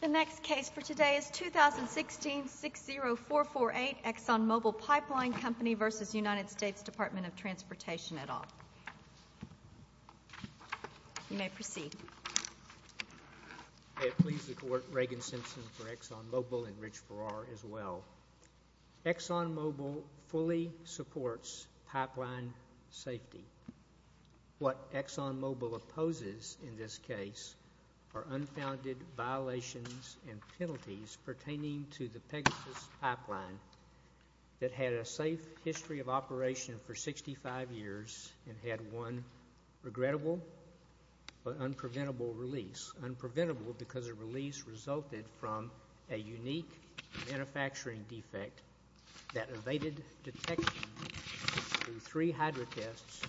The next case for today is 2016-60448 ExxonMobil Pipeline Company v. United States Department of Transportation et al. You may proceed. May it please the Court, Reagan Simpson for ExxonMobil and Rich Farrar as well. ExxonMobil fully supports pipeline safety. What ExxonMobil opposes in this case are unfounded violations and penalties pertaining to the Pegasus Pipeline that had a safe history of operation for 65 years and had one regrettable but unpreventable release. Unpreventable because the release resulted from a unique manufacturing defect that evaded detection through three hydro tests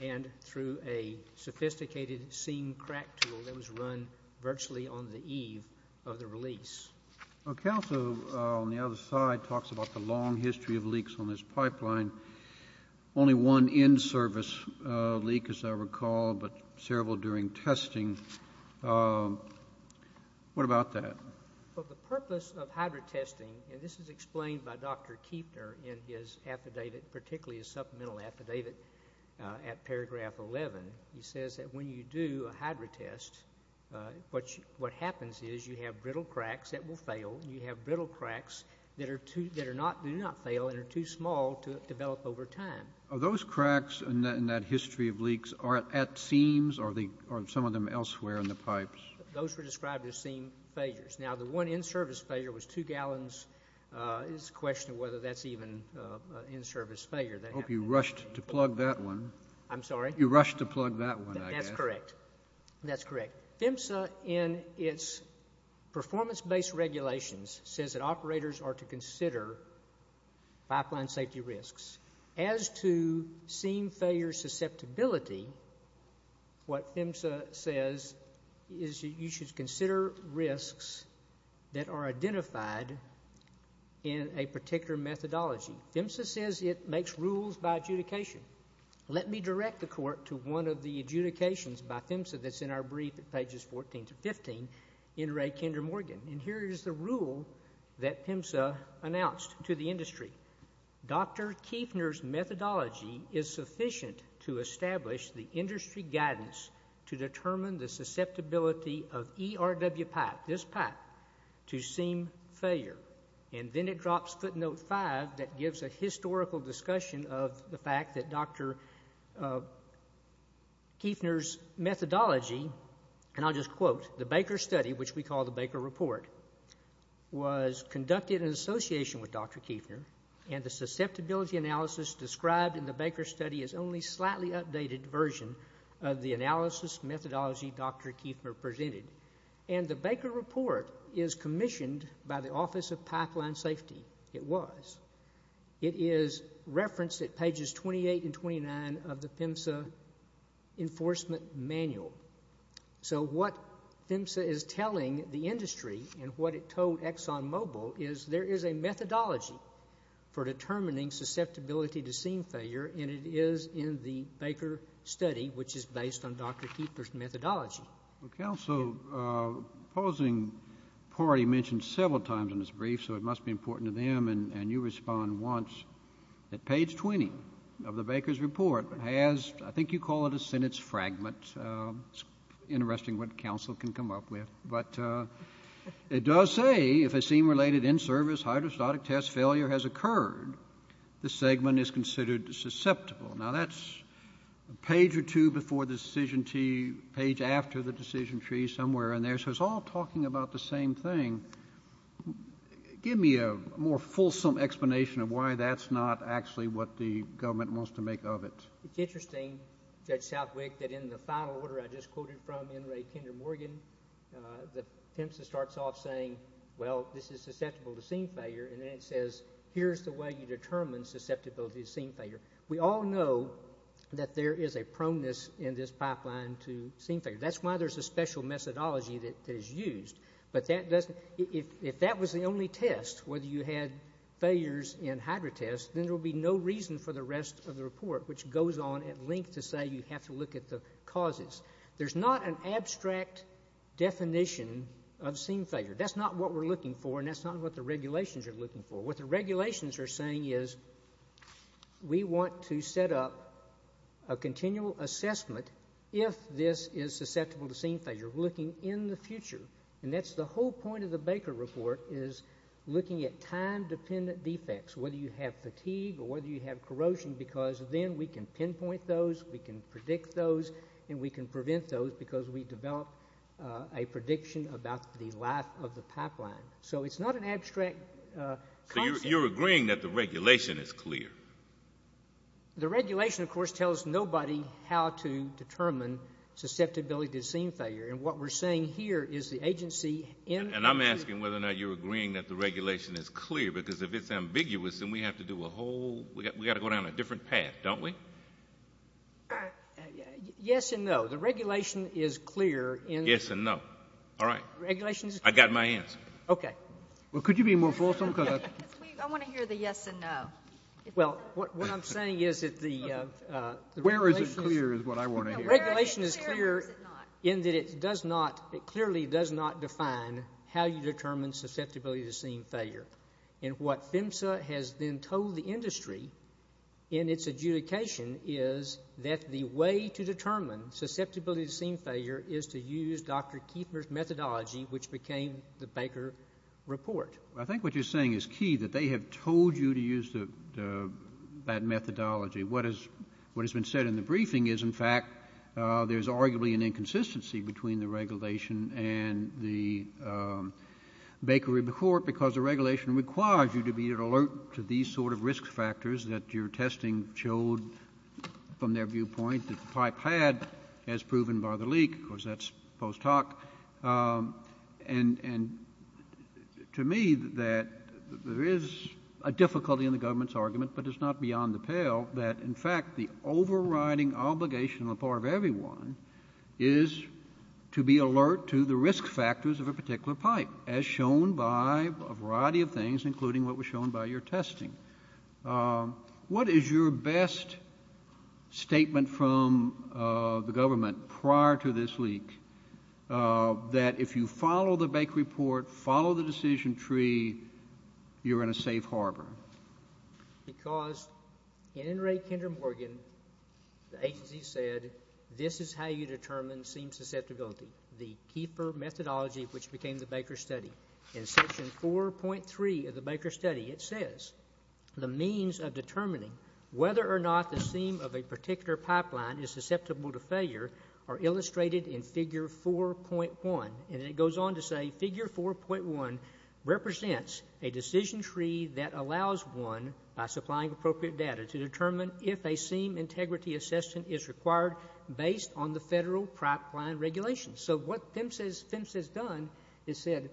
and through a sophisticated seam crack tool that was run virtually on the eve of the release. The counsel on the other side talks about the long history of leaks on this pipeline. Only one in-service leak, as I recall, but several during testing. What about that? Well, the purpose of hydro testing, and this is explained by Dr. Kueffner in his affidavit, particularly his supplemental affidavit at paragraph 11. He says that when you do a hydro test, what happens is you have brittle cracks that will develop over time. Are those cracks in that history of leaks at seams or some of them elsewhere in the pipes? Those were described as seam failures. Now, the one in-service failure was two gallons. It's a question of whether that's even an in-service failure. I hope you rushed to plug that one. I'm sorry? You rushed to plug that one, I guess. That's correct. That's correct. PHMSA, in its performance-based regulations, says that operators are to consider pipeline safety risks. As to seam failure susceptibility, what PHMSA says is you should consider risks that are identified in a particular methodology. PHMSA says it makes rules by adjudication. Let me direct the Court to one of the adjudications by PHMSA that's in our brief at pages 14 to 15, in Ray Kinder Morgan. And here is the rule that PHMSA announced to the industry. Dr. Kiefner's methodology is sufficient to establish the industry guidance to determine the susceptibility of ERW pipe, this pipe, to seam failure. And then it drops footnote five that gives a historical discussion of the fact that Dr. Kiefner's methodology, and I'll just quote, the Baker study, which we call the Baker report, was conducted in association with Dr. Kiefner, and the susceptibility analysis described in the Baker study is only a slightly updated version of the analysis methodology Dr. Kiefner presented. And the Baker report is commissioned by the Office of Pipeline Safety. It was. It is referenced at pages 28 and 29 of the PHMSA enforcement manual. So what PHMSA is telling the industry and what it told ExxonMobil is there is a methodology for determining susceptibility to seam failure, and it is in the Baker study, which is based on Dr. Kiefner's methodology. Counsel, opposing party mentioned several times in this brief, so it must be important to them, and you respond once, that page 20 of the Baker's report has, I think you call it a sentence fragment. It's interesting what counsel can come up with, but it does say if a seam-related in-service hydrostatic test failure has occurred, the segment is considered susceptible. Now, that's a page or two before the decision tree, page after the decision tree, somewhere in there, so it's all talking about the same thing. Give me a more fulsome explanation of why that's not actually what the government wants to make of it. It's interesting, Judge Southwick, that in the final order I just quoted from in Ray Kinder Morgan, the PHMSA starts off saying, well, this is susceptible to seam failure, and then it says, here's the way you determine susceptibility to seam failure. We all know that there is a proneness in this pipeline to seam failure. That's why there's a special methodology that is used. But if that was the only test, whether you had failures in hydrotests, then there will be no reason for the rest of the report, which goes on at length to say you have to look at the causes. There's not an abstract definition of seam failure. That's not what we're looking for, and that's not what the regulations are looking for. What the regulations are saying is we want to set up a continual assessment, if this is susceptible to seam failure, looking in the future. And that's the whole point of the Baker Report is looking at time-dependent defects, whether you have fatigue or whether you have corrosion, because then we can pinpoint those, we can predict those, and we can prevent those because we develop a prediction about the life of the pipeline. So it's not an abstract concept. So you're agreeing that the regulation is clear? The regulation, of course, tells nobody how to determine susceptibility to seam failure. And what we're saying here is the agency in the future. And I'm asking whether or not you're agreeing that the regulation is clear, because if it's ambiguous, then we have to do a whole we've got to go down a different path, don't we? Yes and no. The regulation is clear. Yes and no. All right. The regulation is clear. I've got my hands. Okay. Well, could you be more fulsome? I want to hear the yes and no. Well, what I'm saying is that the regulation is clear in that it does not, it clearly does not define how you determine susceptibility to seam failure. And what PHMSA has then told the industry in its adjudication is that the way to determine susceptibility to seam failure is to use Dr. Kiefer's methodology, which became the Baker report. I think what you're saying is key, that they have told you to use that methodology. What has been said in the briefing is, in fact, there's arguably an inconsistency between the regulation and the Baker report, because the regulation requires you to be alert to these sort of risk factors that your testing showed from their viewpoint that the pipe had, as proven by the leak. Of course, that's post hoc. And to me, that there is a difficulty in the government's argument, but it's not beyond the pale, that, in fact, the overriding obligation on the part of everyone is to be alert to the risk factors of a particular pipe, as shown by a variety of things, including what was shown by your testing. What is your best statement from the government prior to this leak, that if you follow the Baker report, follow the decision tree, you're in a safe harbor? Because in Ray Kinder Morgan, the agency said, this is how you determine seam susceptibility, the Kiefer methodology, which became the Baker study. In section 4.3 of the Baker study, it says, the means of determining whether or not the seam of a particular pipeline is susceptible to failure are illustrated in figure 4.1. And it goes on to say, figure 4.1 represents a decision tree that allows one, by supplying appropriate data, to determine if a seam integrity assessment is required based on the federal pipeline regulations. So what PHMSA has done is said,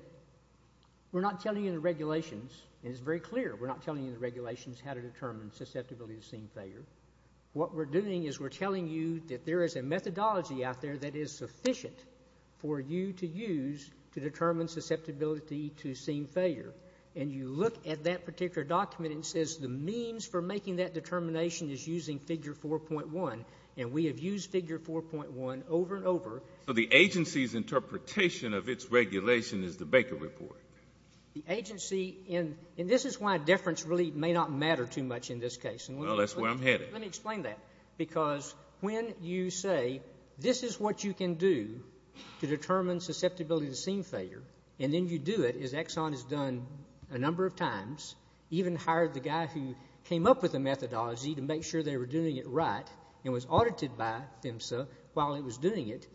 we're not telling you the regulations, and it's very clear, we're not telling you the regulations how to determine susceptibility to seam failure. What we're doing is we're telling you that there is a methodology out there that is sufficient for you to use to determine susceptibility to seam failure. And you look at that particular document and it says, the means for making that determination is using figure 4.1. And we have used figure 4.1 over and over. So the agency's interpretation of its regulation is the Baker report. The agency, and this is why deference really may not matter too much in this case. Well, that's where I'm headed. Let me explain that. Because when you say, this is what you can do to determine susceptibility to seam failure, and then you do it, as Exxon has done a number of times, even hired the guy who came up with the methodology to make sure they were doing it right and was audited by PHMSA while he was doing it.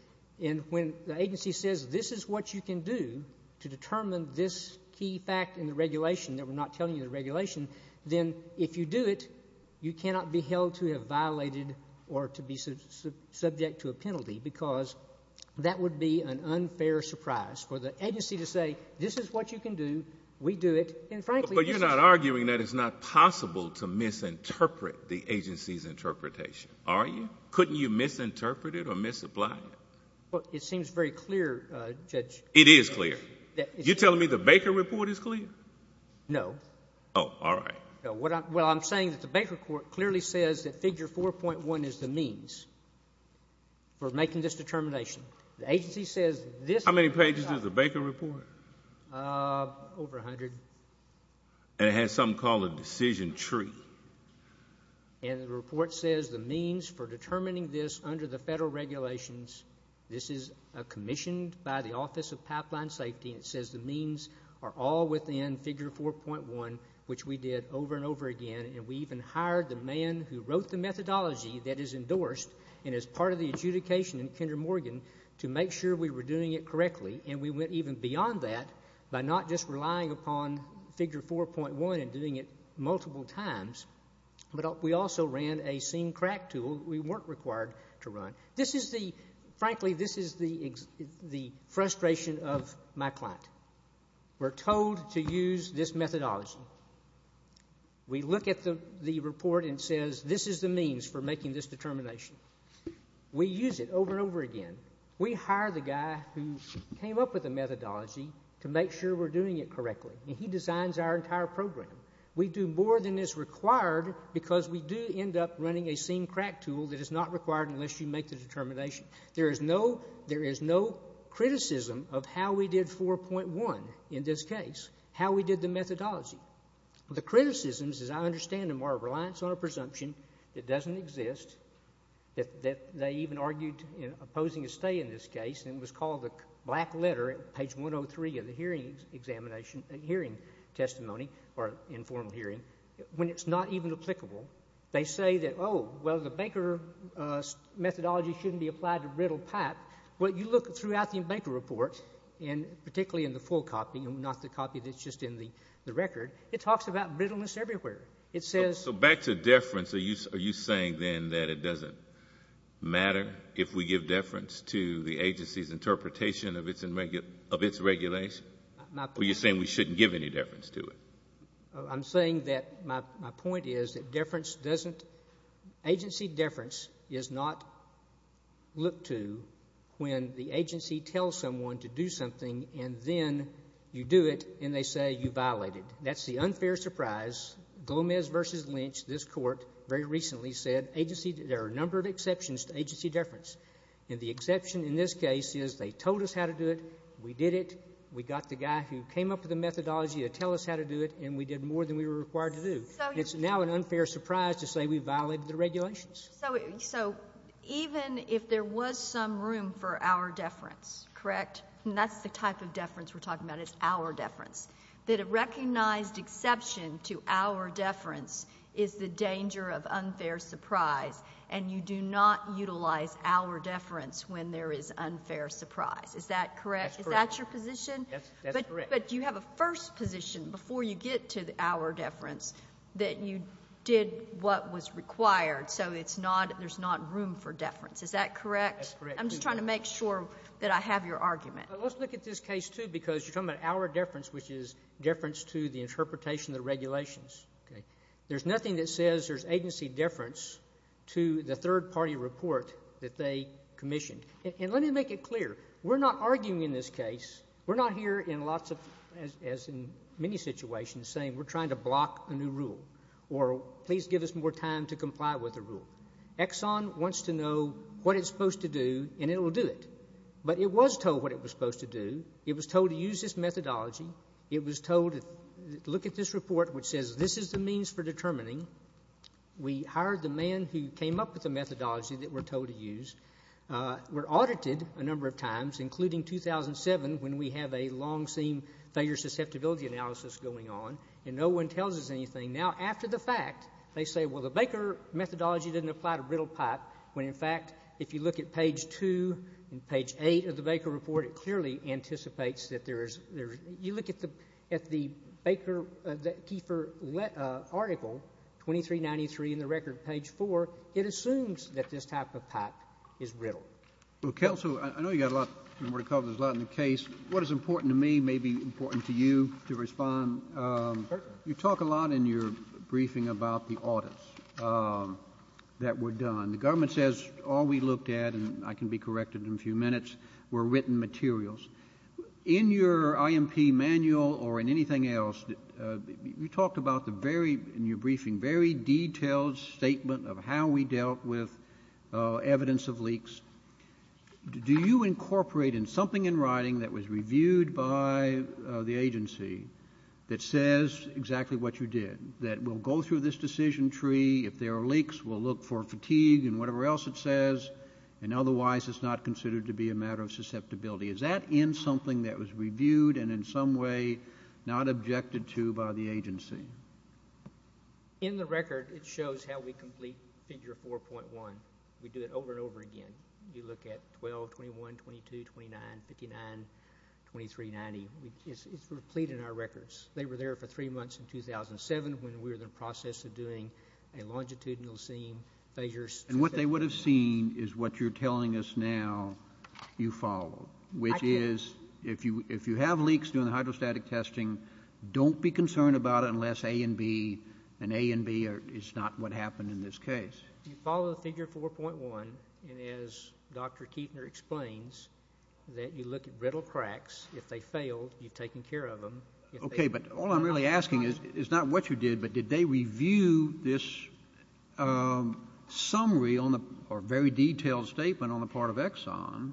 And when the agency says, this is what you can do to determine this key fact in the regulation, that we're not telling you the regulation, then if you do it, you cannot be held to have violated or to be subject to a penalty, because that would be an unfair surprise for the agency to say, this is what you can do, we do it. But you're not arguing that it's not possible to misinterpret the agency's interpretation, are you? Couldn't you misinterpret it or misapply it? Well, it seems very clear, Judge. It is clear. You're telling me the Baker report is clear? No. Oh, all right. No. Well, I'm saying that the Baker report clearly says that figure 4.1 is the means for making this determination. The agency says this is what you can do. How many pages does the Baker report? Over 100. And it has something called a decision tree. And the report says the means for determining this under the federal regulations, this is commissioned by the Office of Pipeline Safety, and it says the means are all within figure 4.1, which we did over and over again, and we even hired the man who wrote the methodology that is endorsed and is part of the adjudication in Kinder Morgan to make sure we were doing it correctly, and we went even beyond that by not just relying upon figure 4.1 and doing it multiple times, but we also ran a seam crack tool we weren't required to run. Frankly, this is the frustration of my client. We're told to use this methodology. We look at the report and it says this is the means for making this determination. We use it over and over again. We hire the guy who came up with the methodology to make sure we're doing it correctly, and he designs our entire program. We do more than is required because we do end up running a seam crack tool that is not required unless you make the determination. There is no criticism of how we did 4.1 in this case, how we did the methodology. The criticisms, as I understand them, are a reliance on a presumption that doesn't exist, that they even argued opposing a stay in this case, and it was called the black letter at page 103 of the hearing testimony or informal hearing, when it's not even applicable. They say that, oh, well, the Baker methodology shouldn't be applied to brittle pipe. Well, you look throughout the Baker report, and particularly in the full copy, not the copy that's just in the record, it talks about brittleness everywhere. So back to deference, are you saying then that it doesn't matter if we give deference to the agency's interpretation of its regulation, or are you saying we shouldn't give any deference to it? I'm saying that my point is that agency deference is not looked to when the agency tells someone to do something, and then you do it, and they say you violated. That's the unfair surprise. Gomez v. Lynch, this Court, very recently said there are a number of exceptions to agency deference. And the exception in this case is they told us how to do it, we did it, we got the guy who came up with the methodology to tell us how to do it, and we did more than we were required to do. It's now an unfair surprise to say we violated the regulations. So even if there was some room for our deference, correct? And that's the type of deference we're talking about is our deference. That a recognized exception to our deference is the danger of unfair surprise, and you do not utilize our deference when there is unfair surprise. Is that correct? That's correct. Is that your position? Yes, that's correct. But you have a first position before you get to our deference that you did what was required, so it's not — there's not room for deference. Is that correct? That's correct. I'm just trying to make sure that I have your argument. Let's look at this case, too, because you're talking about our deference, which is deference to the interpretation of the regulations. There's nothing that says there's agency deference to the third-party report that they commissioned. And let me make it clear. We're not arguing in this case. We're not here in lots of, as in many situations, saying we're trying to block a new rule or please give us more time to comply with a rule. Exxon wants to know what it's supposed to do, and it will do it. But it was told what it was supposed to do. It was told to use this methodology. It was told to look at this report, which says this is the means for determining. We hired the man who came up with the methodology that we're told to use. We're audited a number of times, including 2007, when we have a long-seam failure susceptibility analysis going on, and no one tells us anything. Now, after the fact, they say, well, the Baker methodology didn't apply to brittle pipe, when, in fact, if you look at page 2 and page 8 of the Baker report, it clearly anticipates that there is you look at the Baker Keifer article 2393 in the record page 4, it assumes that this type of pipe is brittle. Counsel, I know you've got a lot more to cover. There's a lot in the case. What is important to me may be important to you to respond. You talk a lot in your briefing about the audits that were done. The government says all we looked at, and I can be corrected in a few minutes, were written materials. In your IMP manual or in anything else, you talked about the very, in your briefing, very detailed statement of how we dealt with evidence of leaks. Do you incorporate in something in writing that was reviewed by the agency that says exactly what you did, that we'll go through this decision tree, if there are leaks, we'll look for fatigue and whatever else it says, and otherwise it's not considered to be a matter of susceptibility? Is that in something that was reviewed and in some way not objected to by the agency? In the record, it shows how we complete figure 4.1. We do it over and over again. You look at 12, 21, 22, 29, 59, 2390. It's replete in our records. They were there for three months in 2007 when we were in the process of doing a longitudinal seam, phasers. And what they would have seen is what you're telling us now you follow, which is if you have leaks during the hydrostatic testing, don't be concerned about it unless A and B, and A and B is not what happened in this case. You follow figure 4.1, and as Dr. Kuechner explains, that you look at brittle cracks. If they fail, you've taken care of them. Okay. But all I'm really asking is, it's not what you did, but did they review this summary or very detailed statement on the part of Exxon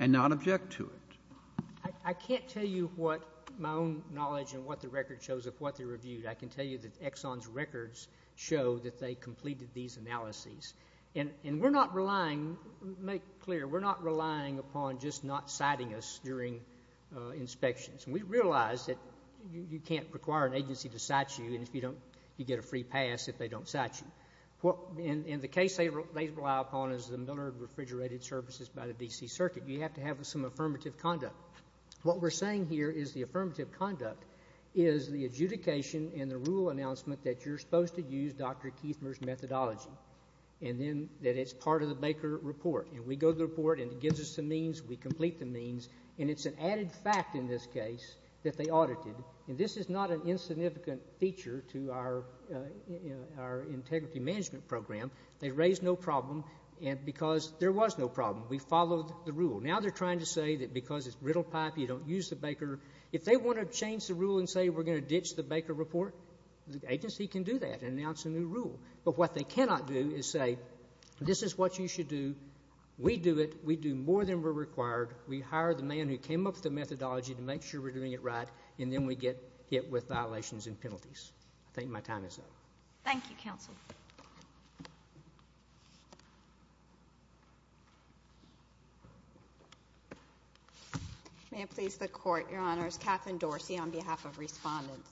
and not object to it? I can't tell you what my own knowledge and what the record shows of what they reviewed. I can tell you that Exxon's records show that they completed these analyses. And we're not relying, make clear, we're not relying upon just not citing us during inspections. We realize that you can't require an agency to cite you, and you get a free pass if they don't cite you. And the case they rely upon is the Millard Refrigerated Services by the D.C. Circuit. You have to have some affirmative conduct. What we're saying here is the affirmative conduct is the adjudication and the rule announcement that you're supposed to use Dr. Kuechner's methodology, and then that it's part of the Baker Report. And we go to the report, and it gives us the means, we complete the means, and it's an added fact in this case that they audited. And this is not an insignificant feature to our integrity management program. They raised no problem because there was no problem. We followed the rule. Now they're trying to say that because it's brittle pipe, you don't use the Baker. If they want to change the rule and say we're going to ditch the Baker Report, the agency can do that and announce a new rule. But what they cannot do is say this is what you should do. We do it. We do more than we're required. We hire the man who came up with the methodology to make sure we're doing it right, and then we get hit with violations and penalties. I think my time is up. Thank you, counsel. Thank you. May it please the Court, Your Honors. Katherine Dorsey on behalf of Respondents.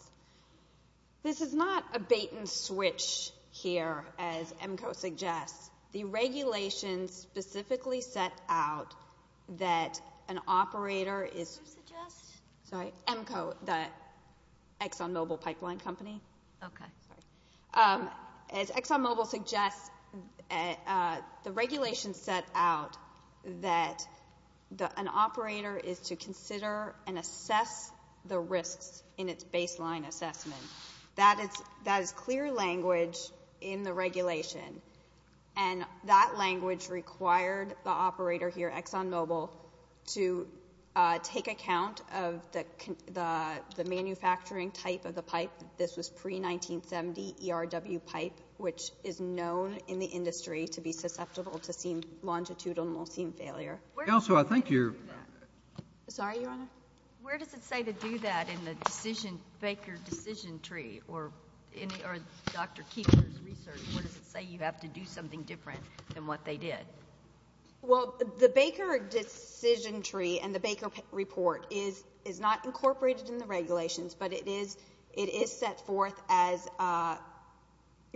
This is not a bait and switch here, as EMCO suggests. The regulations specifically set out that an operator is EMCO, the ExxonMobil Pipeline Company. As ExxonMobil suggests, the regulations set out that an operator is to consider and assess the risks in its baseline assessment. That is clear language in the regulation, and that language required the operator here, ExxonMobil, to take account of the manufacturing type of the pipe. This was pre-1970 ERW pipe, which is known in the industry to be susceptible to longitudinal seam failure. Counsel, I think you're ---- Sorry, Your Honor. Where does it say to do that in the Baker decision tree or Dr. Keefer's research? Where does it say you have to do something different than what they did? Well, the Baker decision tree and the Baker report is not incorporated in the regulations, but it is set forth as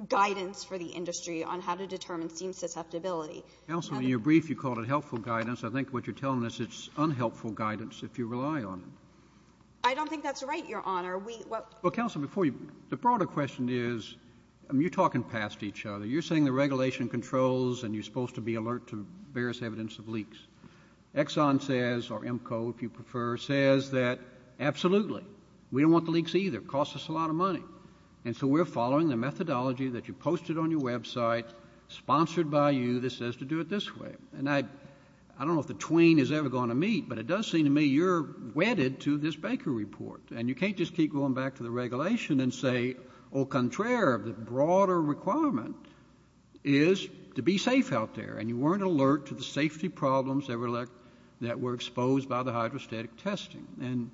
guidance for the industry on how to determine seam susceptibility. Counsel, in your brief, you called it helpful guidance. I think what you're telling us, it's unhelpful guidance if you rely on it. I don't think that's right, Your Honor. We ---- Well, counsel, before you ---- the broader question is, you're talking past each other. You're saying the regulation controls and you're supposed to be alert to various evidence of leaks. Exxon says, or EMCO if you prefer, says that absolutely. We don't want the leaks either. It costs us a lot of money. And so we're following the methodology that you posted on your website, sponsored by you, that says to do it this way. And I don't know if the twain is ever going to meet, but it does seem to me you're wedded to this Baker report. And you can't just keep going back to the regulation and say, au contraire, the broader requirement is to be safe out there. And you weren't alert to the safety problems that were exposed by the hydrostatic testing. And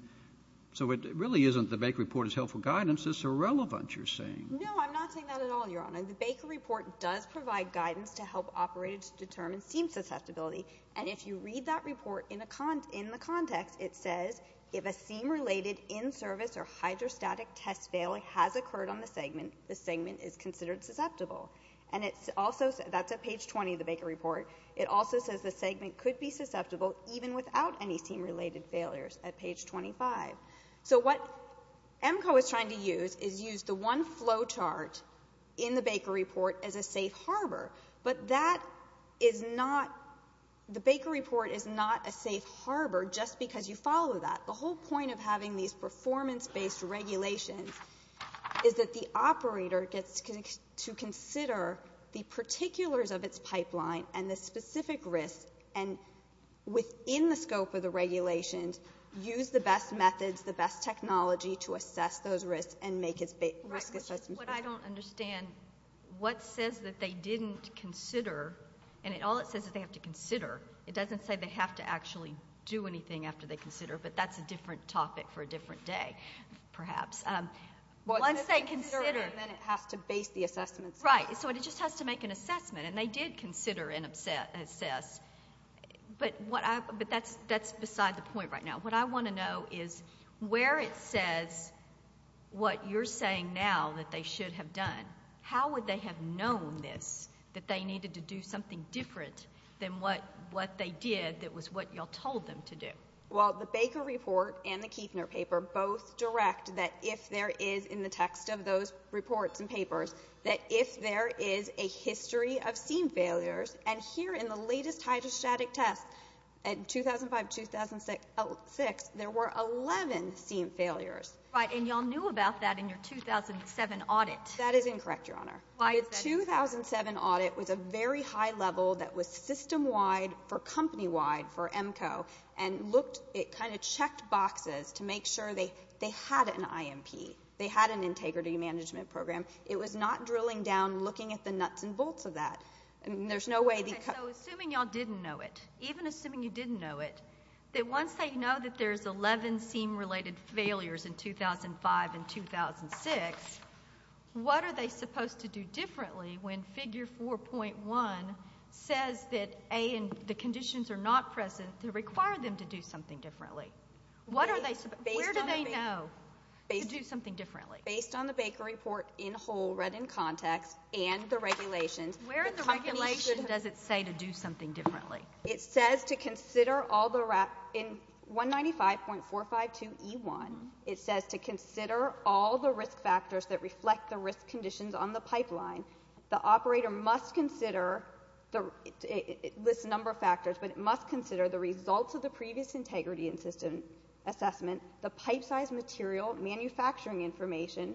so it really isn't the Baker report is helpful guidance. It's irrelevant, you're saying. No, I'm not saying that at all, Your Honor. The Baker report does provide guidance to help operators determine seam susceptibility. And if you read that report in the context, it says, if a seam-related in-service or hydrostatic test failure has occurred on the segment, the segment is considered susceptible. And it also says, that's at page 20 of the Baker report, it also says the segment could be susceptible even without any seam-related failures at page 25. So what EMCO is trying to use is use the one flow chart in the Baker report as a safe harbor. But that is not, the Baker report is not a safe harbor just because you follow that. The whole point of having these performance-based regulations is that the operator gets to consider the particulars of its pipeline and the specific risks, and within the scope of the regulations, use the best methods, the best technology to assess those risks and make its risk assessment. What I don't understand, what says that they didn't consider, and all it says is they have to consider. It doesn't say they have to actually do anything after they consider, but that's a different topic for a different day, perhaps. Once they consider... Well, if they consider it, then it has to base the assessment. Right. So it just has to make an assessment. And they did consider and assess. But that's beside the point right now. What I want to know is where it says what you're saying now that they should have done, how would they have known this, that they needed to do something different than what they did that was what you all told them to do? Well, the Baker report and the Kiefner paper both direct that if there is, in the text of those reports and papers, that if there is a history of seam failures, and here in the latest hydrostatic test in 2005-2006, there were 11 seam failures. Right. And you all knew about that in your 2007 audit. That is incorrect, Your Honor. Why is that incorrect? The 2007 audit was a very high level that was system-wide for company-wide for EMCO, and it kind of checked boxes to make sure they had an IMP, they had an integrity management program. It was not drilling down, looking at the nuts and bolts of that. Okay, so assuming you all didn't know it, even assuming you didn't know it, that once they know that there's 11 seam-related failures in 2005 and 2006, what are they supposed to do differently when figure 4.1 says that, A, the conditions are not present to require them to do something differently? Where do they know to do something differently? Based on the Baker report in whole, read in context, and the regulations, Where in the regulation does it say to do something differently? It says to consider all the, in 195.452E1, it says to consider all the risk factors that reflect the risk conditions on the pipeline. The operator must consider, it lists a number of factors, but it must consider the results of the previous integrity and system assessment, the pipe size material, manufacturing information,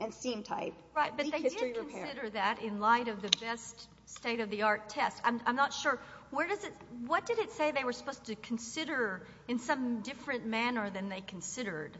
and seam type. Right, but they did consider that in light of the best state-of-the-art test. I'm not sure, where does it, what did it say they were supposed to consider in some different manner than they considered?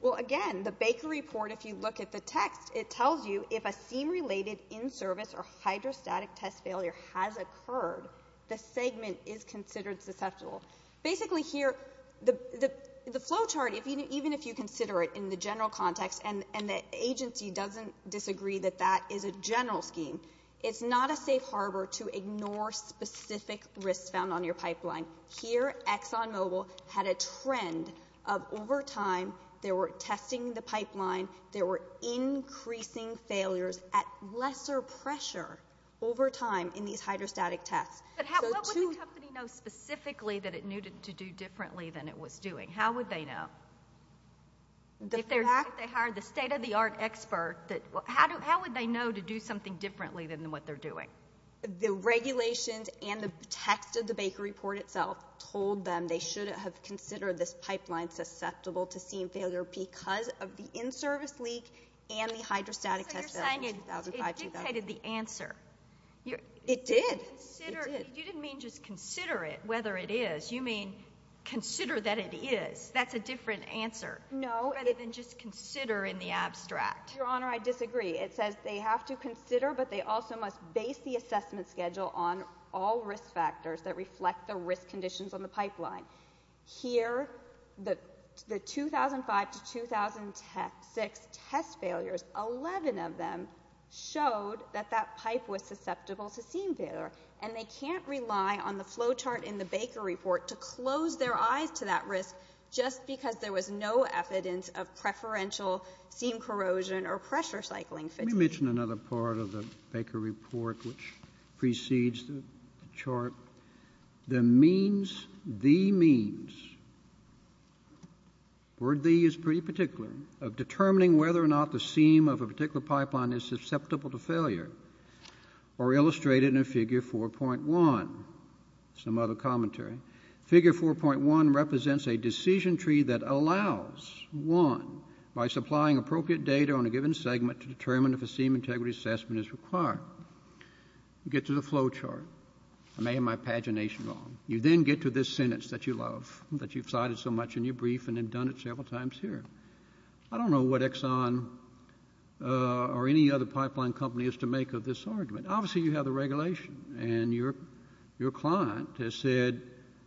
Well, again, the Baker report, if you look at the text, it tells you if a seam-related in-service or hydrostatic test failure has occurred, the segment is considered susceptible. Basically here, the flow chart, even if you consider it in the general context and the agency doesn't disagree that that is a general scheme, it's not a safe harbor to ignore specific risks found on your pipeline. Here, ExxonMobil had a trend of, over time, they were testing the pipeline, there were increasing failures at lesser pressure over time in these hydrostatic tests. But what would the company know specifically that it needed to do differently than it was doing? How would they know? If they hired the state-of-the-art expert, how would they know to do something differently than what they're doing? The regulations and the text of the Baker report itself told them they should have considered this pipeline susceptible to seam failure because of the in-service leak and the hydrostatic test failure in 2005-2006. It dictated the answer. It did. You didn't mean just consider it, whether it is. You mean consider that it is. That's a different answer. No. Rather than just consider in the abstract. Your Honor, I disagree. It says they have to consider, but they also must base the assessment schedule on all risk factors that reflect the risk conditions on the pipeline. Here, the 2005-2006 test failures, 11 of them showed that that pipe was susceptible to seam failure. And they can't rely on the flow chart in the Baker report to close their eyes to that risk just because there was no evidence of preferential seam corrosion or pressure cycling fatigue. Let me mention another part of the Baker report which precedes the chart. The means, the means, the word the is pretty particular, of determining whether or not the seam of a particular pipeline is susceptible to failure are illustrated in Figure 4.1. Some other commentary. Figure 4.1 represents a decision tree that allows one, by supplying appropriate data on a given segment, to determine if a seam integrity assessment is required. You get to the flow chart. I made my pagination wrong. You then get to this sentence that you love, that you've cited so much in your brief and have done it several times here. I don't know what Exxon or any other pipeline company is to make of this argument. Obviously you have the regulation and your client has said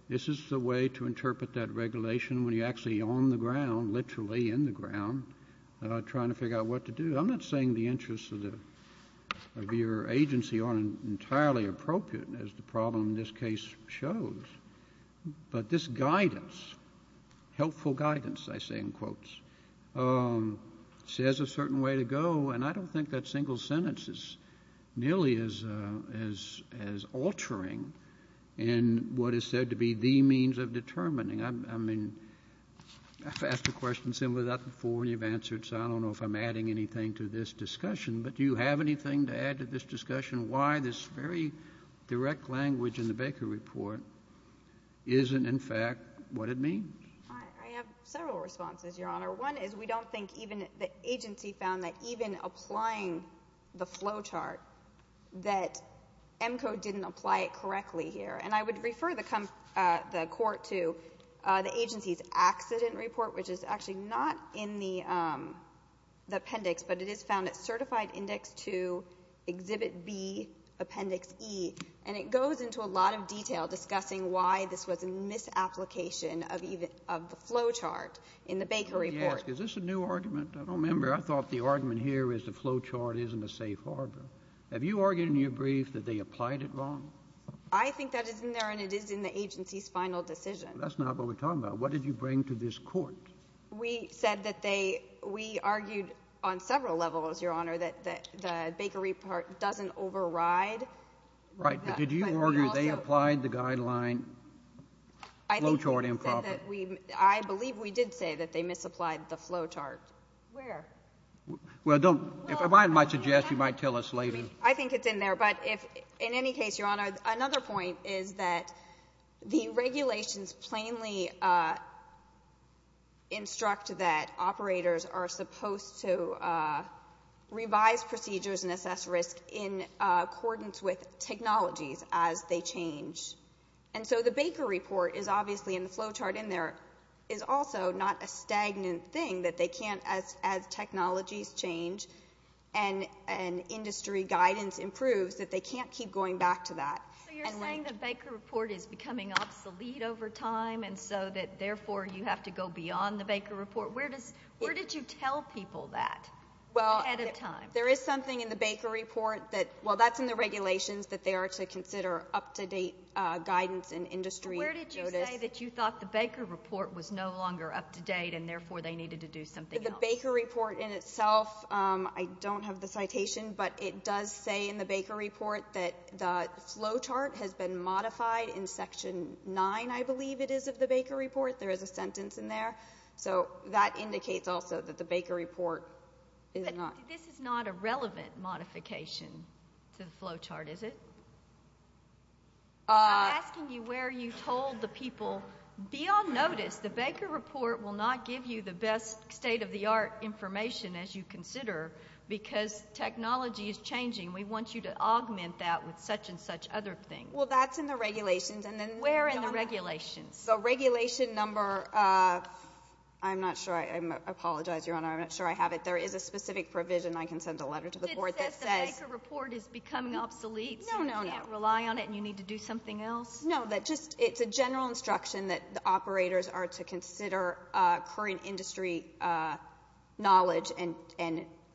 this is the way to interpret that regulation when you're actually on the ground, literally in the ground, trying to figure out what to do. I'm not saying the interests of your agency aren't entirely appropriate, as the problem in this case shows. But this guidance, helpful guidance, I say in quotes, says a certain way to go. And I don't think that single sentence is nearly as altering in what is said to be the means of determining. I mean, I've asked a question similar to that before, and you've answered, so I don't know if I'm adding anything to this discussion. But do you have anything to add to this discussion, why this very direct language in the Baker Report isn't, in fact, what it means? I have several responses, Your Honor. One is we don't think even the agency found that even applying the flow chart, that EMCO didn't apply it correctly here. And I would refer the court to the agency's accident report, which is actually not in the appendix, but it is found at Certified Index II, Exhibit B, Appendix E. And it goes into a lot of detail discussing why this was a misapplication of the flow chart in the Baker Report. Let me ask, is this a new argument? I don't remember. I thought the argument here is the flow chart isn't a safe harbor. Have you argued in your brief that they applied it wrong? I think that is in there, and it is in the agency's final decision. That's not what we're talking about. What did you bring to this court? We said that they – we argued on several levels, Your Honor, that the Baker Report doesn't override. Right. But did you argue they applied the guideline flow chart improperly? I believe we did say that they misapplied the flow chart. Where? Well, don't – if I might suggest, you might tell us later. I think it's in there. But if – in any case, Your Honor, another point is that the regulations plainly instruct that operators are supposed to revise procedures and assess risk in accordance with technologies as they change. And so the Baker Report is obviously – and the flow chart in there – is also not a stagnant thing that they can't, as technologies change and industry guidance improves, that they can't keep going back to that. So you're saying the Baker Report is becoming obsolete over time and so that therefore you have to go beyond the Baker Report? Where does – where did you tell people that ahead of time? There is something in the Baker Report that – well, that's in the regulations that they are to consider up-to-date guidance and industry notice. But where did you say that you thought the Baker Report was no longer up-to-date and therefore they needed to do something else? The Baker Report in itself – I don't have the citation, but it does say in the Baker Report that the flow chart has been modified in Section 9, I believe it is, of the Baker Report. There is a sentence in there. So that indicates also that the Baker Report is not. This is not a relevant modification to the flow chart, is it? I'm asking you where you told the people beyond notice the Baker Report will not give you the best state-of-the-art information as you consider because technology is changing. We want you to augment that with such and such other things. Well, that's in the regulations. Where in the regulations? The regulation number – I'm not sure. I apologize, Your Honor. I'm not sure I have it. There is a specific provision. I can send a letter to the Court that says – It says the Baker Report is becoming obsolete. No, no, no. So you can't rely on it and you need to do something else? No, that just – it's a general instruction that the operators are to consider current industry knowledge and,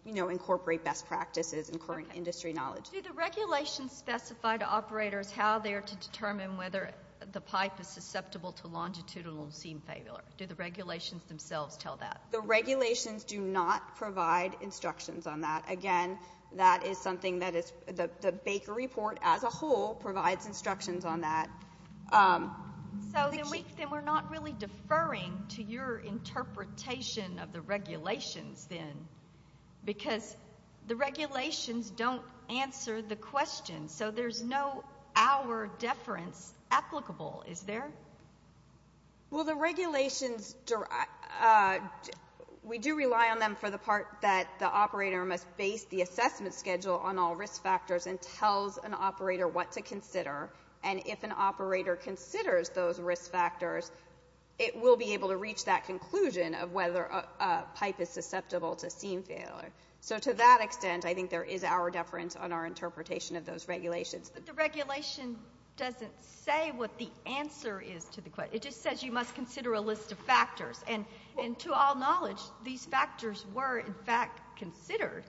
you know, incorporate best practices and current industry knowledge. Do the regulations specify to operators how they are to determine whether the pipe is susceptible to longitudinal seam failure? Do the regulations themselves tell that? The regulations do not provide instructions on that. Again, that is something that is – the Baker Report as a whole provides instructions on that. So then we're not really deferring to your interpretation of the regulations then because the regulations don't answer the question, so there's no hour deference applicable, is there? Well, the regulations – we do rely on them for the part that the operator must base the assessment schedule on all risk factors and tells an operator what to consider. And if an operator considers those risk factors, it will be able to reach that conclusion of whether a pipe is susceptible to seam failure. So to that extent, I think there is hour deference on our interpretation of those regulations. But the regulation doesn't say what the answer is to the question. It just says you must consider a list of factors. And to all knowledge, these factors were, in fact, considered.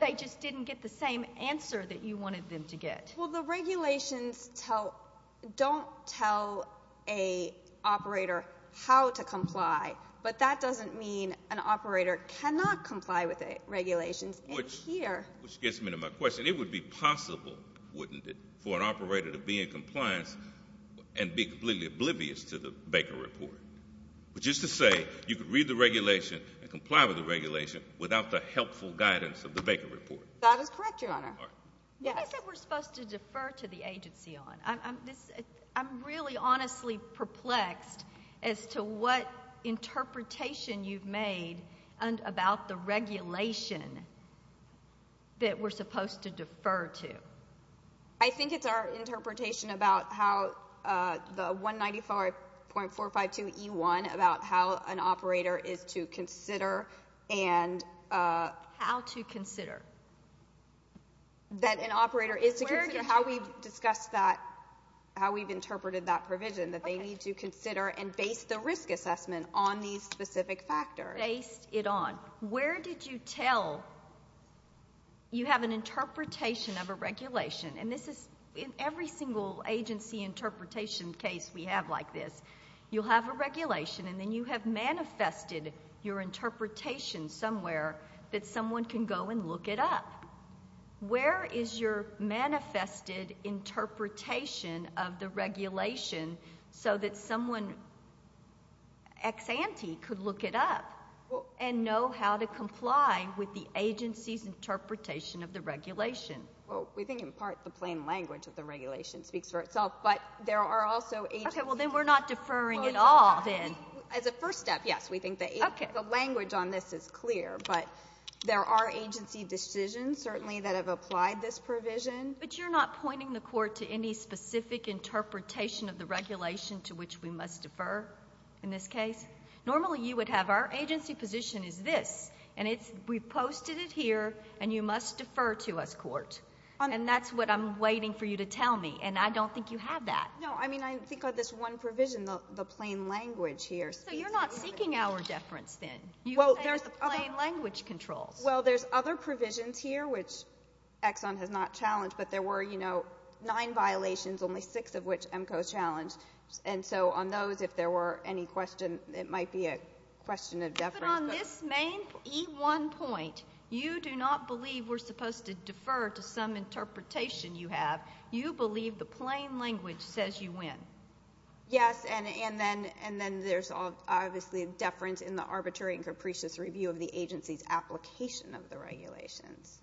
They just didn't get the same answer that you wanted them to get. Well, the regulations don't tell an operator how to comply, but that doesn't mean an operator cannot comply with the regulations in here. Which gets me to my question. It would be possible, wouldn't it, for an operator to be in compliance and be completely oblivious to the Baker Report? Which is to say you could read the regulation and comply with the regulation without the helpful guidance of the Baker Report. That is correct, Your Honor. What is it we're supposed to defer to the agency on? I'm really honestly perplexed as to what interpretation you've made about the regulation that we're supposed to defer to. I think it's our interpretation about how the 195.452E1, about how an operator is to consider and... How to consider. That an operator is to consider how we've discussed that, how we've interpreted that provision, that they need to consider and base the risk assessment on these specific factors. Based it on. Where did you tell you have an interpretation of a regulation? And this is in every single agency interpretation case we have like this. You'll have a regulation, and then you have manifested your interpretation somewhere that someone can go and look it up. Where is your manifested interpretation of the regulation so that someone ex-ante could look it up and know how to comply with the agency's interpretation of the regulation? Well, we think in part the plain language of the regulation speaks for itself, but there are also agencies... Okay, well, then we're not deferring at all then. As a first step, yes, we think the language on this is clear, but there are agency decisions certainly that have applied this provision. But you're not pointing the Court to any specific interpretation of the regulation to which we must defer in this case? Normally you would have our agency position is this, and we've posted it here, and you must defer to us, Court. And that's what I'm waiting for you to tell me, and I don't think you have that. No, I mean, I think of this one provision, the plain language here. So you're not seeking our deference then? You say it's the plain language controls. Well, there's other provisions here, which Exxon has not challenged, but there were, you know, nine violations, only six of which EMCO has challenged. And so on those, if there were any questions, it might be a question of deference. But on this main E1 point, you do not believe we're supposed to defer to some interpretation you have. You believe the plain language says you win. Yes, and then there's obviously a deference in the arbitrary and capricious review of the agency's application of the regulations.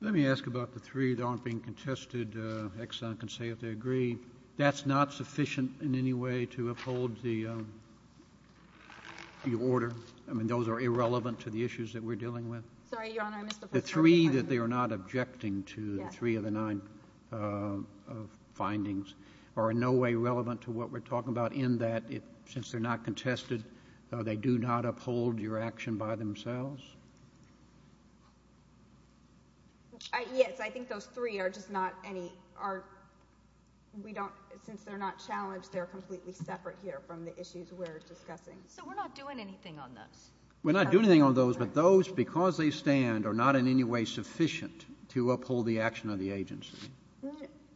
Let me ask about the three that aren't being contested. Exxon can say if they agree. That's not sufficient in any way to uphold the order. I mean, those are irrelevant to the issues that we're dealing with. Sorry, Your Honor, I missed the first part of your question. The three that they are not objecting to, the three of the nine findings, are in no way relevant to what we're talking about in that since they're not contested, they do not uphold your action by themselves? Yes, I think those three are just not any, are, we don't, since they're not challenged, they're completely separate here from the issues we're discussing. So we're not doing anything on those. We're not doing anything on those, but those, because they stand, are not in any way sufficient to uphold the action of the agency.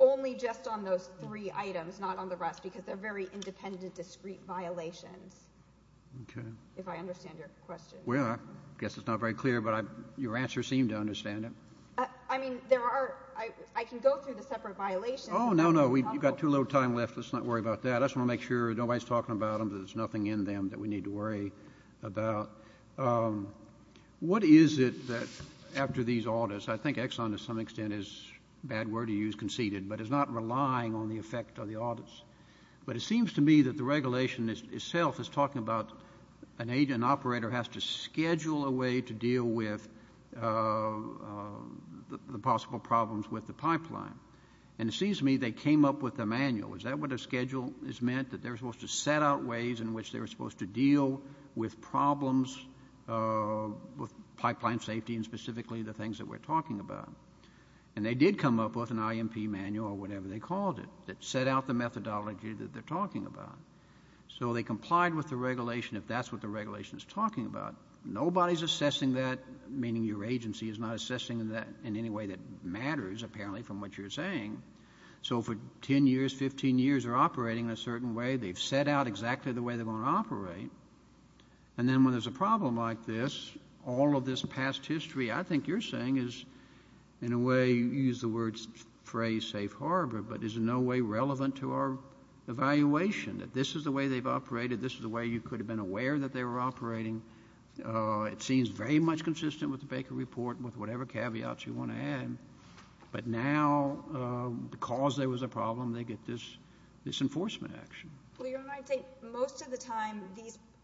Only just on those three items, not on the rest, because they're very independent, discrete violations. Okay. If I understand your question. Well, I guess it's not very clear, but your answer seemed to understand it. I mean, there are, I can go through the separate violations. Oh, no, no. You've got too little time left. Let's not worry about that. I just want to make sure nobody's talking about them, that there's nothing in them that we need to worry about. What is it that after these audits, I think Exxon to some extent is a bad word to use, conceded, but is not relying on the effect of the audits. But it seems to me that the regulation itself is talking about an agent, an operator has to schedule a way to deal with the possible problems with the pipeline. And it seems to me they came up with a manual. Is that what a schedule is meant, that they're supposed to set out ways in which they're supposed to deal with problems with pipeline safety and specifically the things that we're talking about? And they did come up with an IMP manual or whatever they called it that set out the methodology that they're talking about. So they complied with the regulation if that's what the regulation is talking about. Nobody's assessing that, meaning your agency is not assessing that in any way that matters, apparently, from what you're saying. So for 10 years, 15 years, they're operating in a certain way. They've set out exactly the way they're going to operate. And then when there's a problem like this, all of this past history, I think you're saying is in a way you use the phrase safe harbor, but is in no way relevant to our evaluation, that this is the way they've operated, this is the way you could have been aware that they were operating. It seems very much consistent with the Baker Report with whatever caveats you want to add. But now because there was a problem, they get this enforcement action. Well, Your Honor, I think most of the time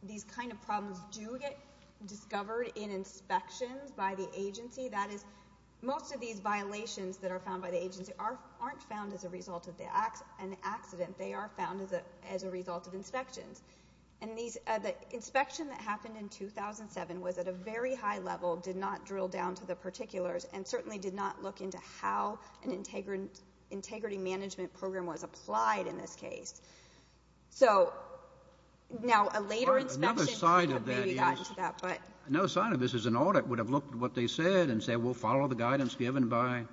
these kind of problems do get discovered in inspections by the agency. That is, most of these violations that are found by the agency aren't found as a result of an accident. They are found as a result of inspections. And the inspection that happened in 2007 was at a very high level, did not drill down to the particulars, and certainly did not look into how an integrity management program was applied in this case. So now a later inspection could have maybe gotten to that. Another side of this is an audit would have looked at what they said and said we'll follow the guidance given by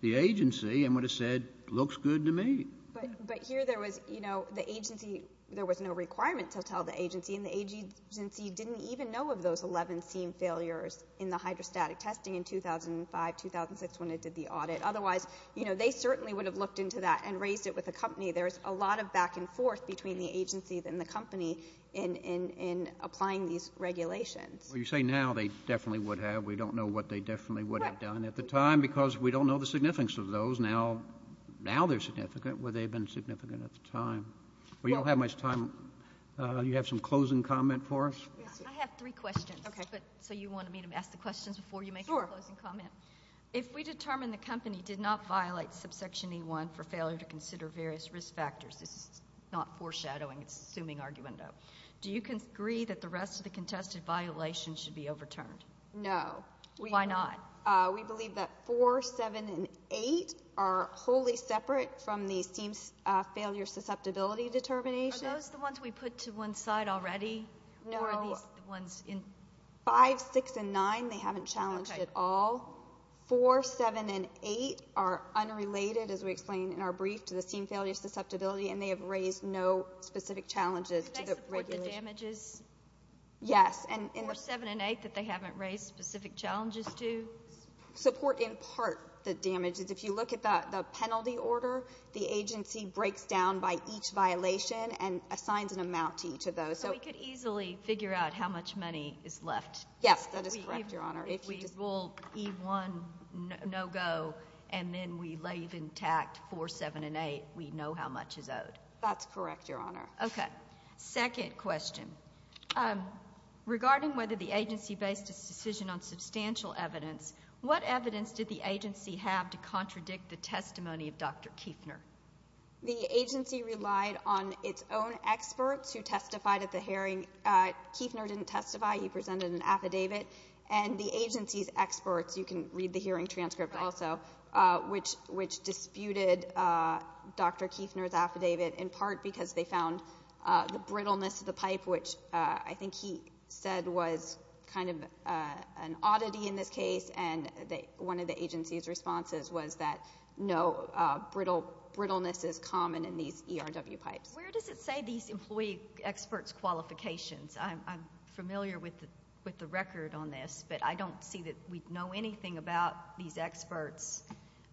the agency and would have said looks good to me. But here there was, you know, the agency, there was no requirement to tell the agency, and the agency didn't even know of those 11 scene failures in the hydrostatic testing in 2005, 2006 when it did the audit. Otherwise, you know, they certainly would have looked into that and raised it with the company. There is a lot of back and forth between the agency and the company in applying these regulations. Well, you say now they definitely would have. We don't know what they definitely would have done at the time because we don't know the significance of those. Now they're significant. Would they have been significant at the time? Well, you don't have much time. Do you have some closing comment for us? I have three questions. So you wanted me to ask the questions before you make a closing comment. Sure. If we determine the company did not violate subsection E1 for failure to consider various risk factors, this is not foreshadowing, it's assuming argument, though, do you agree that the rest of the contested violations should be overturned? No. Why not? We believe that 4, 7, and 8 are wholly separate from the scene failure susceptibility determination. Are those the ones we put to one side already? No. Or are these the ones in? 5, 6, and 9 they haven't challenged at all. 4, 7, and 8 are unrelated, as we explained in our brief, to the scene failure susceptibility, and they have raised no specific challenges to the regulation. Could they support the damages? Yes. 4, 7, and 8 that they haven't raised specific challenges to? Support in part the damages. If you look at the penalty order, the agency breaks down by each violation and assigns an amount to each of those. So we could easily figure out how much money is left. Yes, that is correct, Your Honor. If we rule E1 no-go and then we leave intact 4, 7, and 8, we know how much is owed. That's correct, Your Honor. Okay. Second question. Regarding whether the agency based its decision on substantial evidence, what evidence did the agency have to contradict the testimony of Dr. Kueffner? The agency relied on its own experts who testified at the hearing. Kueffner didn't testify. He presented an affidavit. And the agency's experts, you can read the hearing transcript also, which disputed Dr. Kueffner's affidavit in part because they found the brittleness of the pipe, which I think he said was kind of an oddity in this case, and one of the agency's responses was that no, brittleness is common in these ERW pipes. Where does it say these employee experts' qualifications? I'm familiar with the record on this, but I don't see that we know anything about these experts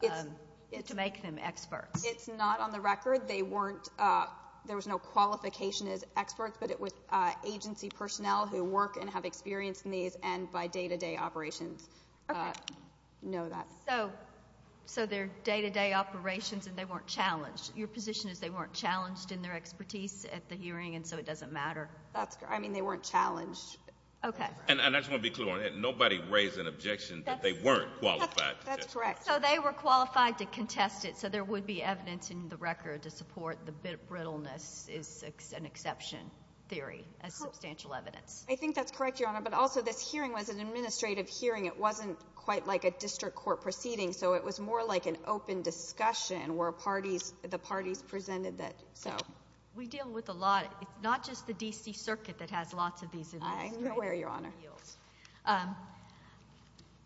to make them experts. It's not on the record. There was no qualification as experts, but it was agency personnel who work and have experience in these and by day-to-day operations know that. So they're day-to-day operations and they weren't challenged. Your position is they weren't challenged in their expertise at the hearing and so it doesn't matter? That's correct. I mean, they weren't challenged. Okay. And I just want to be clear on that. Nobody raised an objection that they weren't qualified. That's correct. So they were qualified to contest it, so there would be evidence in the record to support the brittleness is an exception theory as substantial evidence. I think that's correct, Your Honor, but also this hearing was an administrative hearing. It wasn't quite like a district court proceeding, so it was more like an open discussion where the parties presented that. We deal with a lot. It's not just the D.C. Circuit that has lots of these. I know where, Your Honor.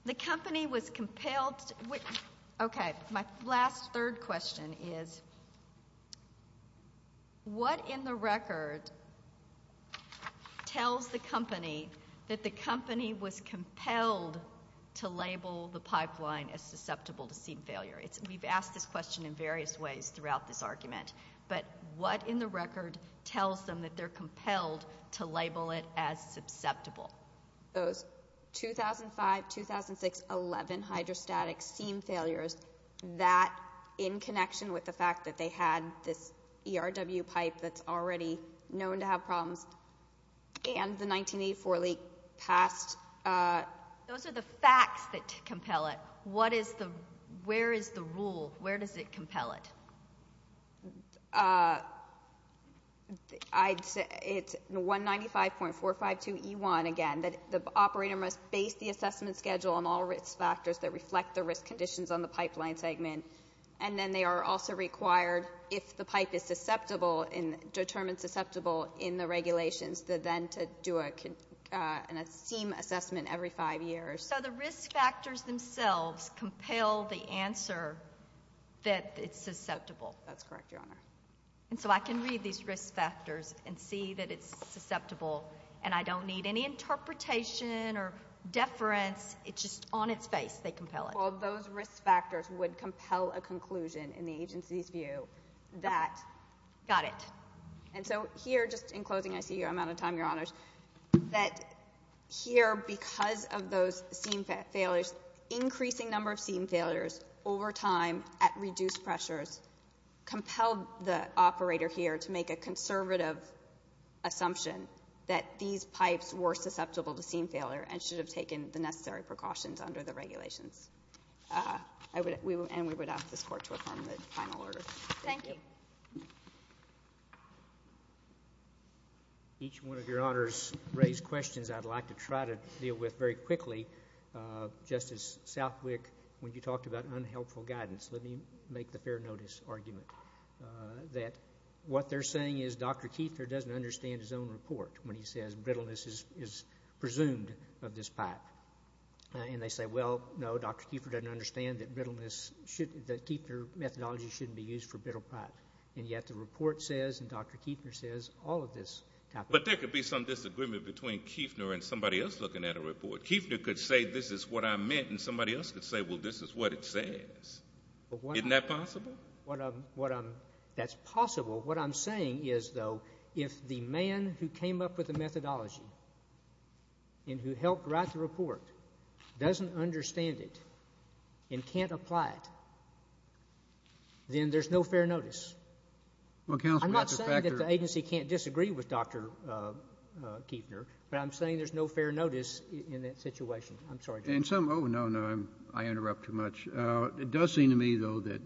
The company was compelled to, okay, my last third question is, what in the record tells the company that the company was compelled to label the pipeline as susceptible to seed failure? We've asked this question in various ways throughout this argument, but what in the record tells them that they're compelled to label it as susceptible? Those 2005-2006-11 hydrostatic seam failures, that in connection with the fact that they had this ERW pipe that's already known to have problems, and the 1984 leak passed. Those are the facts that compel it. Where is the rule? Where does it compel it? I'd say it's 195.452E1, again, that the operator must base the assessment schedule on all risk factors that reflect the risk conditions on the pipeline segment, and then they are also required, if the pipe is susceptible, determined susceptible in the regulations, then to do a seam assessment every five years. So the risk factors themselves compel the answer that it's susceptible. That's correct, Your Honor. And so I can read these risk factors and see that it's susceptible, and I don't need any interpretation or deference. It's just on its face they compel it. Well, those risk factors would compel a conclusion in the agency's view that... Got it. And so here, just in closing, I see I'm out of time, Your Honors, that here, because of those seam failures, increasing number of seam failures over time at reduced pressures compelled the operator here to make a conservative assumption that these pipes were susceptible to seam failure and should have taken the necessary precautions under the regulations. And we would ask this Court to affirm the final order. Thank you. Thank you. Each one of Your Honors raised questions I'd like to try to deal with very quickly. Justice Southwick, when you talked about unhelpful guidance, let me make the fair notice argument that what they're saying is Dr. Kieffer doesn't understand his own report when he says brittleness is presumed of this pipe. And they say, well, no, Dr. Kieffer doesn't understand that brittleness should be, that Kieffer methodology shouldn't be used for brittle pipe. And yet the report says and Dr. Kieffer says all of this. But there could be some disagreement between Kieffer and somebody else looking at a report. Kieffer could say this is what I meant, and somebody else could say, well, this is what it says. Isn't that possible? That's possible. What I'm saying is, though, if the man who came up with the methodology and who helped write the report doesn't understand it and can't apply it, then there's no fair notice. I'm not saying that the agency can't disagree with Dr. Kieffer, but I'm saying there's no fair notice in that situation. I'm sorry. Oh, no, no. I interrupt too much. It does seem to me, though, that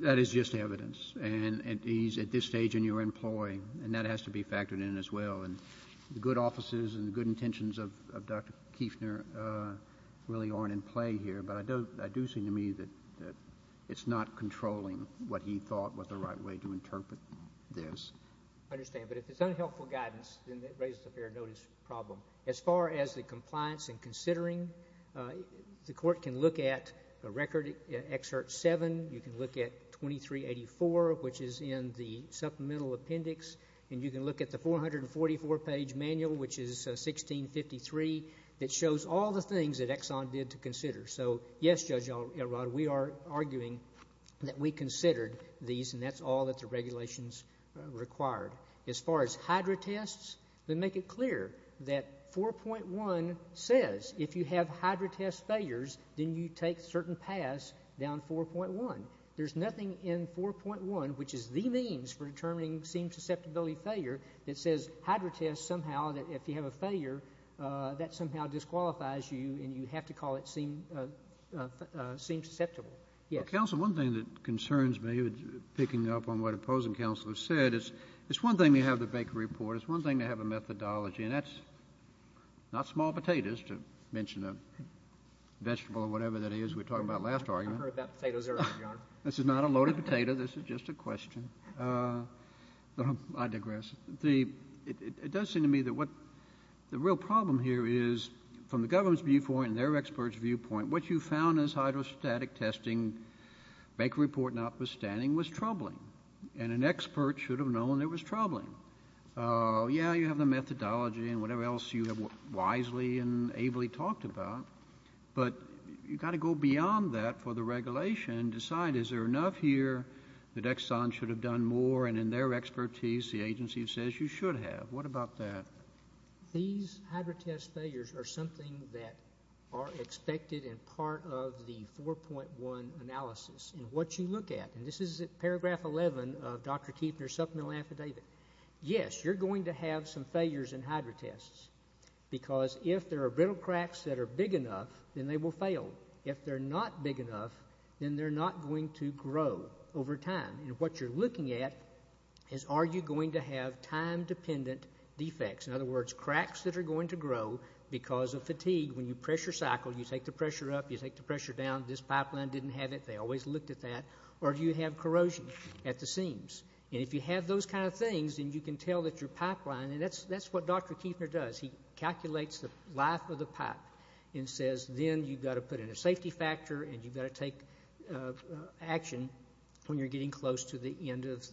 that is just evidence. And he's at this stage in your employ, and that has to be factored in as well. And the good offices and the good intentions of Dr. Kieffner really aren't in play here. But I do see to me that it's not controlling what he thought was the right way to interpret this. I understand. But if it's unhelpful guidance, then that raises a fair notice problem. As far as the compliance and considering, the Court can look at Record Excerpt 7. You can look at 2384, which is in the supplemental appendix. And you can look at the 444-page manual, which is 1653, that shows all the things that Exxon did to consider. So, yes, Judge Elrod, we are arguing that we considered these, and that's all that the regulations required. As far as HYDRA tests, then make it clear that 4.1 says if you have HYDRA test failures, then you take certain paths down 4.1. There's nothing in 4.1, which is the means for determining seam susceptibility failure, that says HYDRA test somehow that if you have a failure, that somehow disqualifies you, and you have to call it seam susceptible. Yes. Counsel, one thing that concerns me, picking up on what opposing counselors said, is it's one thing to have the Baker Report. It's one thing to have a methodology. And that's not small potatoes, to mention a vegetable or whatever that is we were talking about last argument. I've heard that potato's early, John. This is not a loaded potato. This is just a question. I digress. It does seem to me that what the real problem here is, from the government's viewpoint and their experts' viewpoint, what you found as HYDRA static testing, Baker Report notwithstanding, was troubling. And an expert should have known it was troubling. Yeah, you have the methodology and whatever else you have wisely and ably talked about, but you've got to go beyond that for the regulation and decide, is there enough here that Exxon should have done more? And in their expertise, the agency says you should have. What about that? These HYDRA test failures are something that are expected and part of the 4.1 analysis. And what you look at, and this is paragraph 11 of Dr. Keefner's supplemental affidavit. Yes, you're going to have some failures in HYDRA tests because if there are brittle cracks that are big enough, then they will fail. If they're not big enough, then they're not going to grow over time. And what you're looking at is are you going to have time-dependent defects? In other words, cracks that are going to grow because of fatigue. When you pressure cycle, you take the pressure up, you take the pressure down. This pipeline didn't have it. They always looked at that. Or do you have corrosion at the seams? And if you have those kind of things, then you can tell that your pipeline, and that's what Dr. Keefner does, he calculates the life of the pipe and says, then you've got to put in a safety factor and you've got to take action when you're getting close to the end of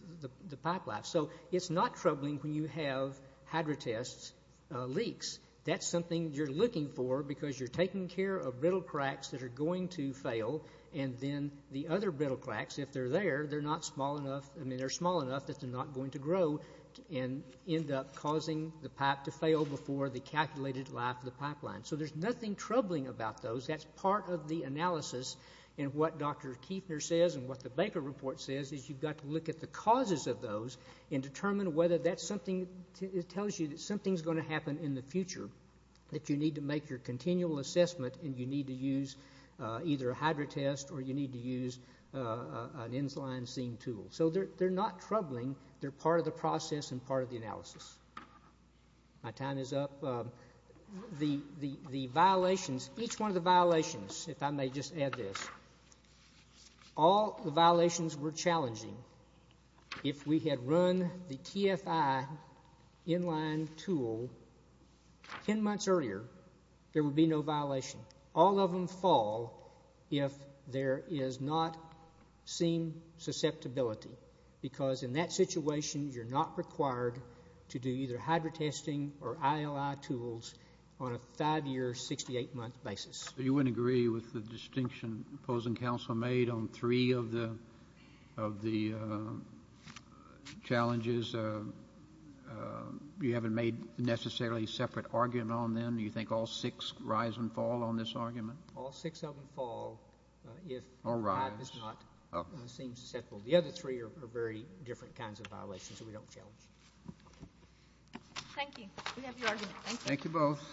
the pipeline. So it's not troubling when you have HYDRA tests leaks. That's something you're looking for because you're taking care of brittle cracks that are going to fail, and then the other brittle cracks, if they're there, they're small enough that they're not going to grow and end up causing the pipe to fail before the calculated life of the pipeline. So there's nothing troubling about those. That's part of the analysis. And what Dr. Keefner says and what the Baker Report says is you've got to look at the causes of those and determine whether that's something that tells you that something's going to happen in the future, that you need to make your continual assessment and you need to use either a HYDRA test or you need to use an inline seam tool. So they're not troubling. They're part of the process and part of the analysis. My time is up. The violations, each one of the violations, if I may just add this, all the violations were challenging. If we had run the TFI inline tool 10 months earlier, there would be no violation. All of them fall if there is not seam susceptibility because in that situation you're not required to do either HYDRA testing or ILI tools on a five-year, 68-month basis. You wouldn't agree with the distinction opposing counsel made on three of the challenges? You haven't made necessarily a separate argument on them? Do you think all six rise and fall on this argument? All six of them fall if the five is not seam susceptible. The other three are very different kinds of violations that we don't challenge. Thank you. We have your argument. Thank you. Thank you both.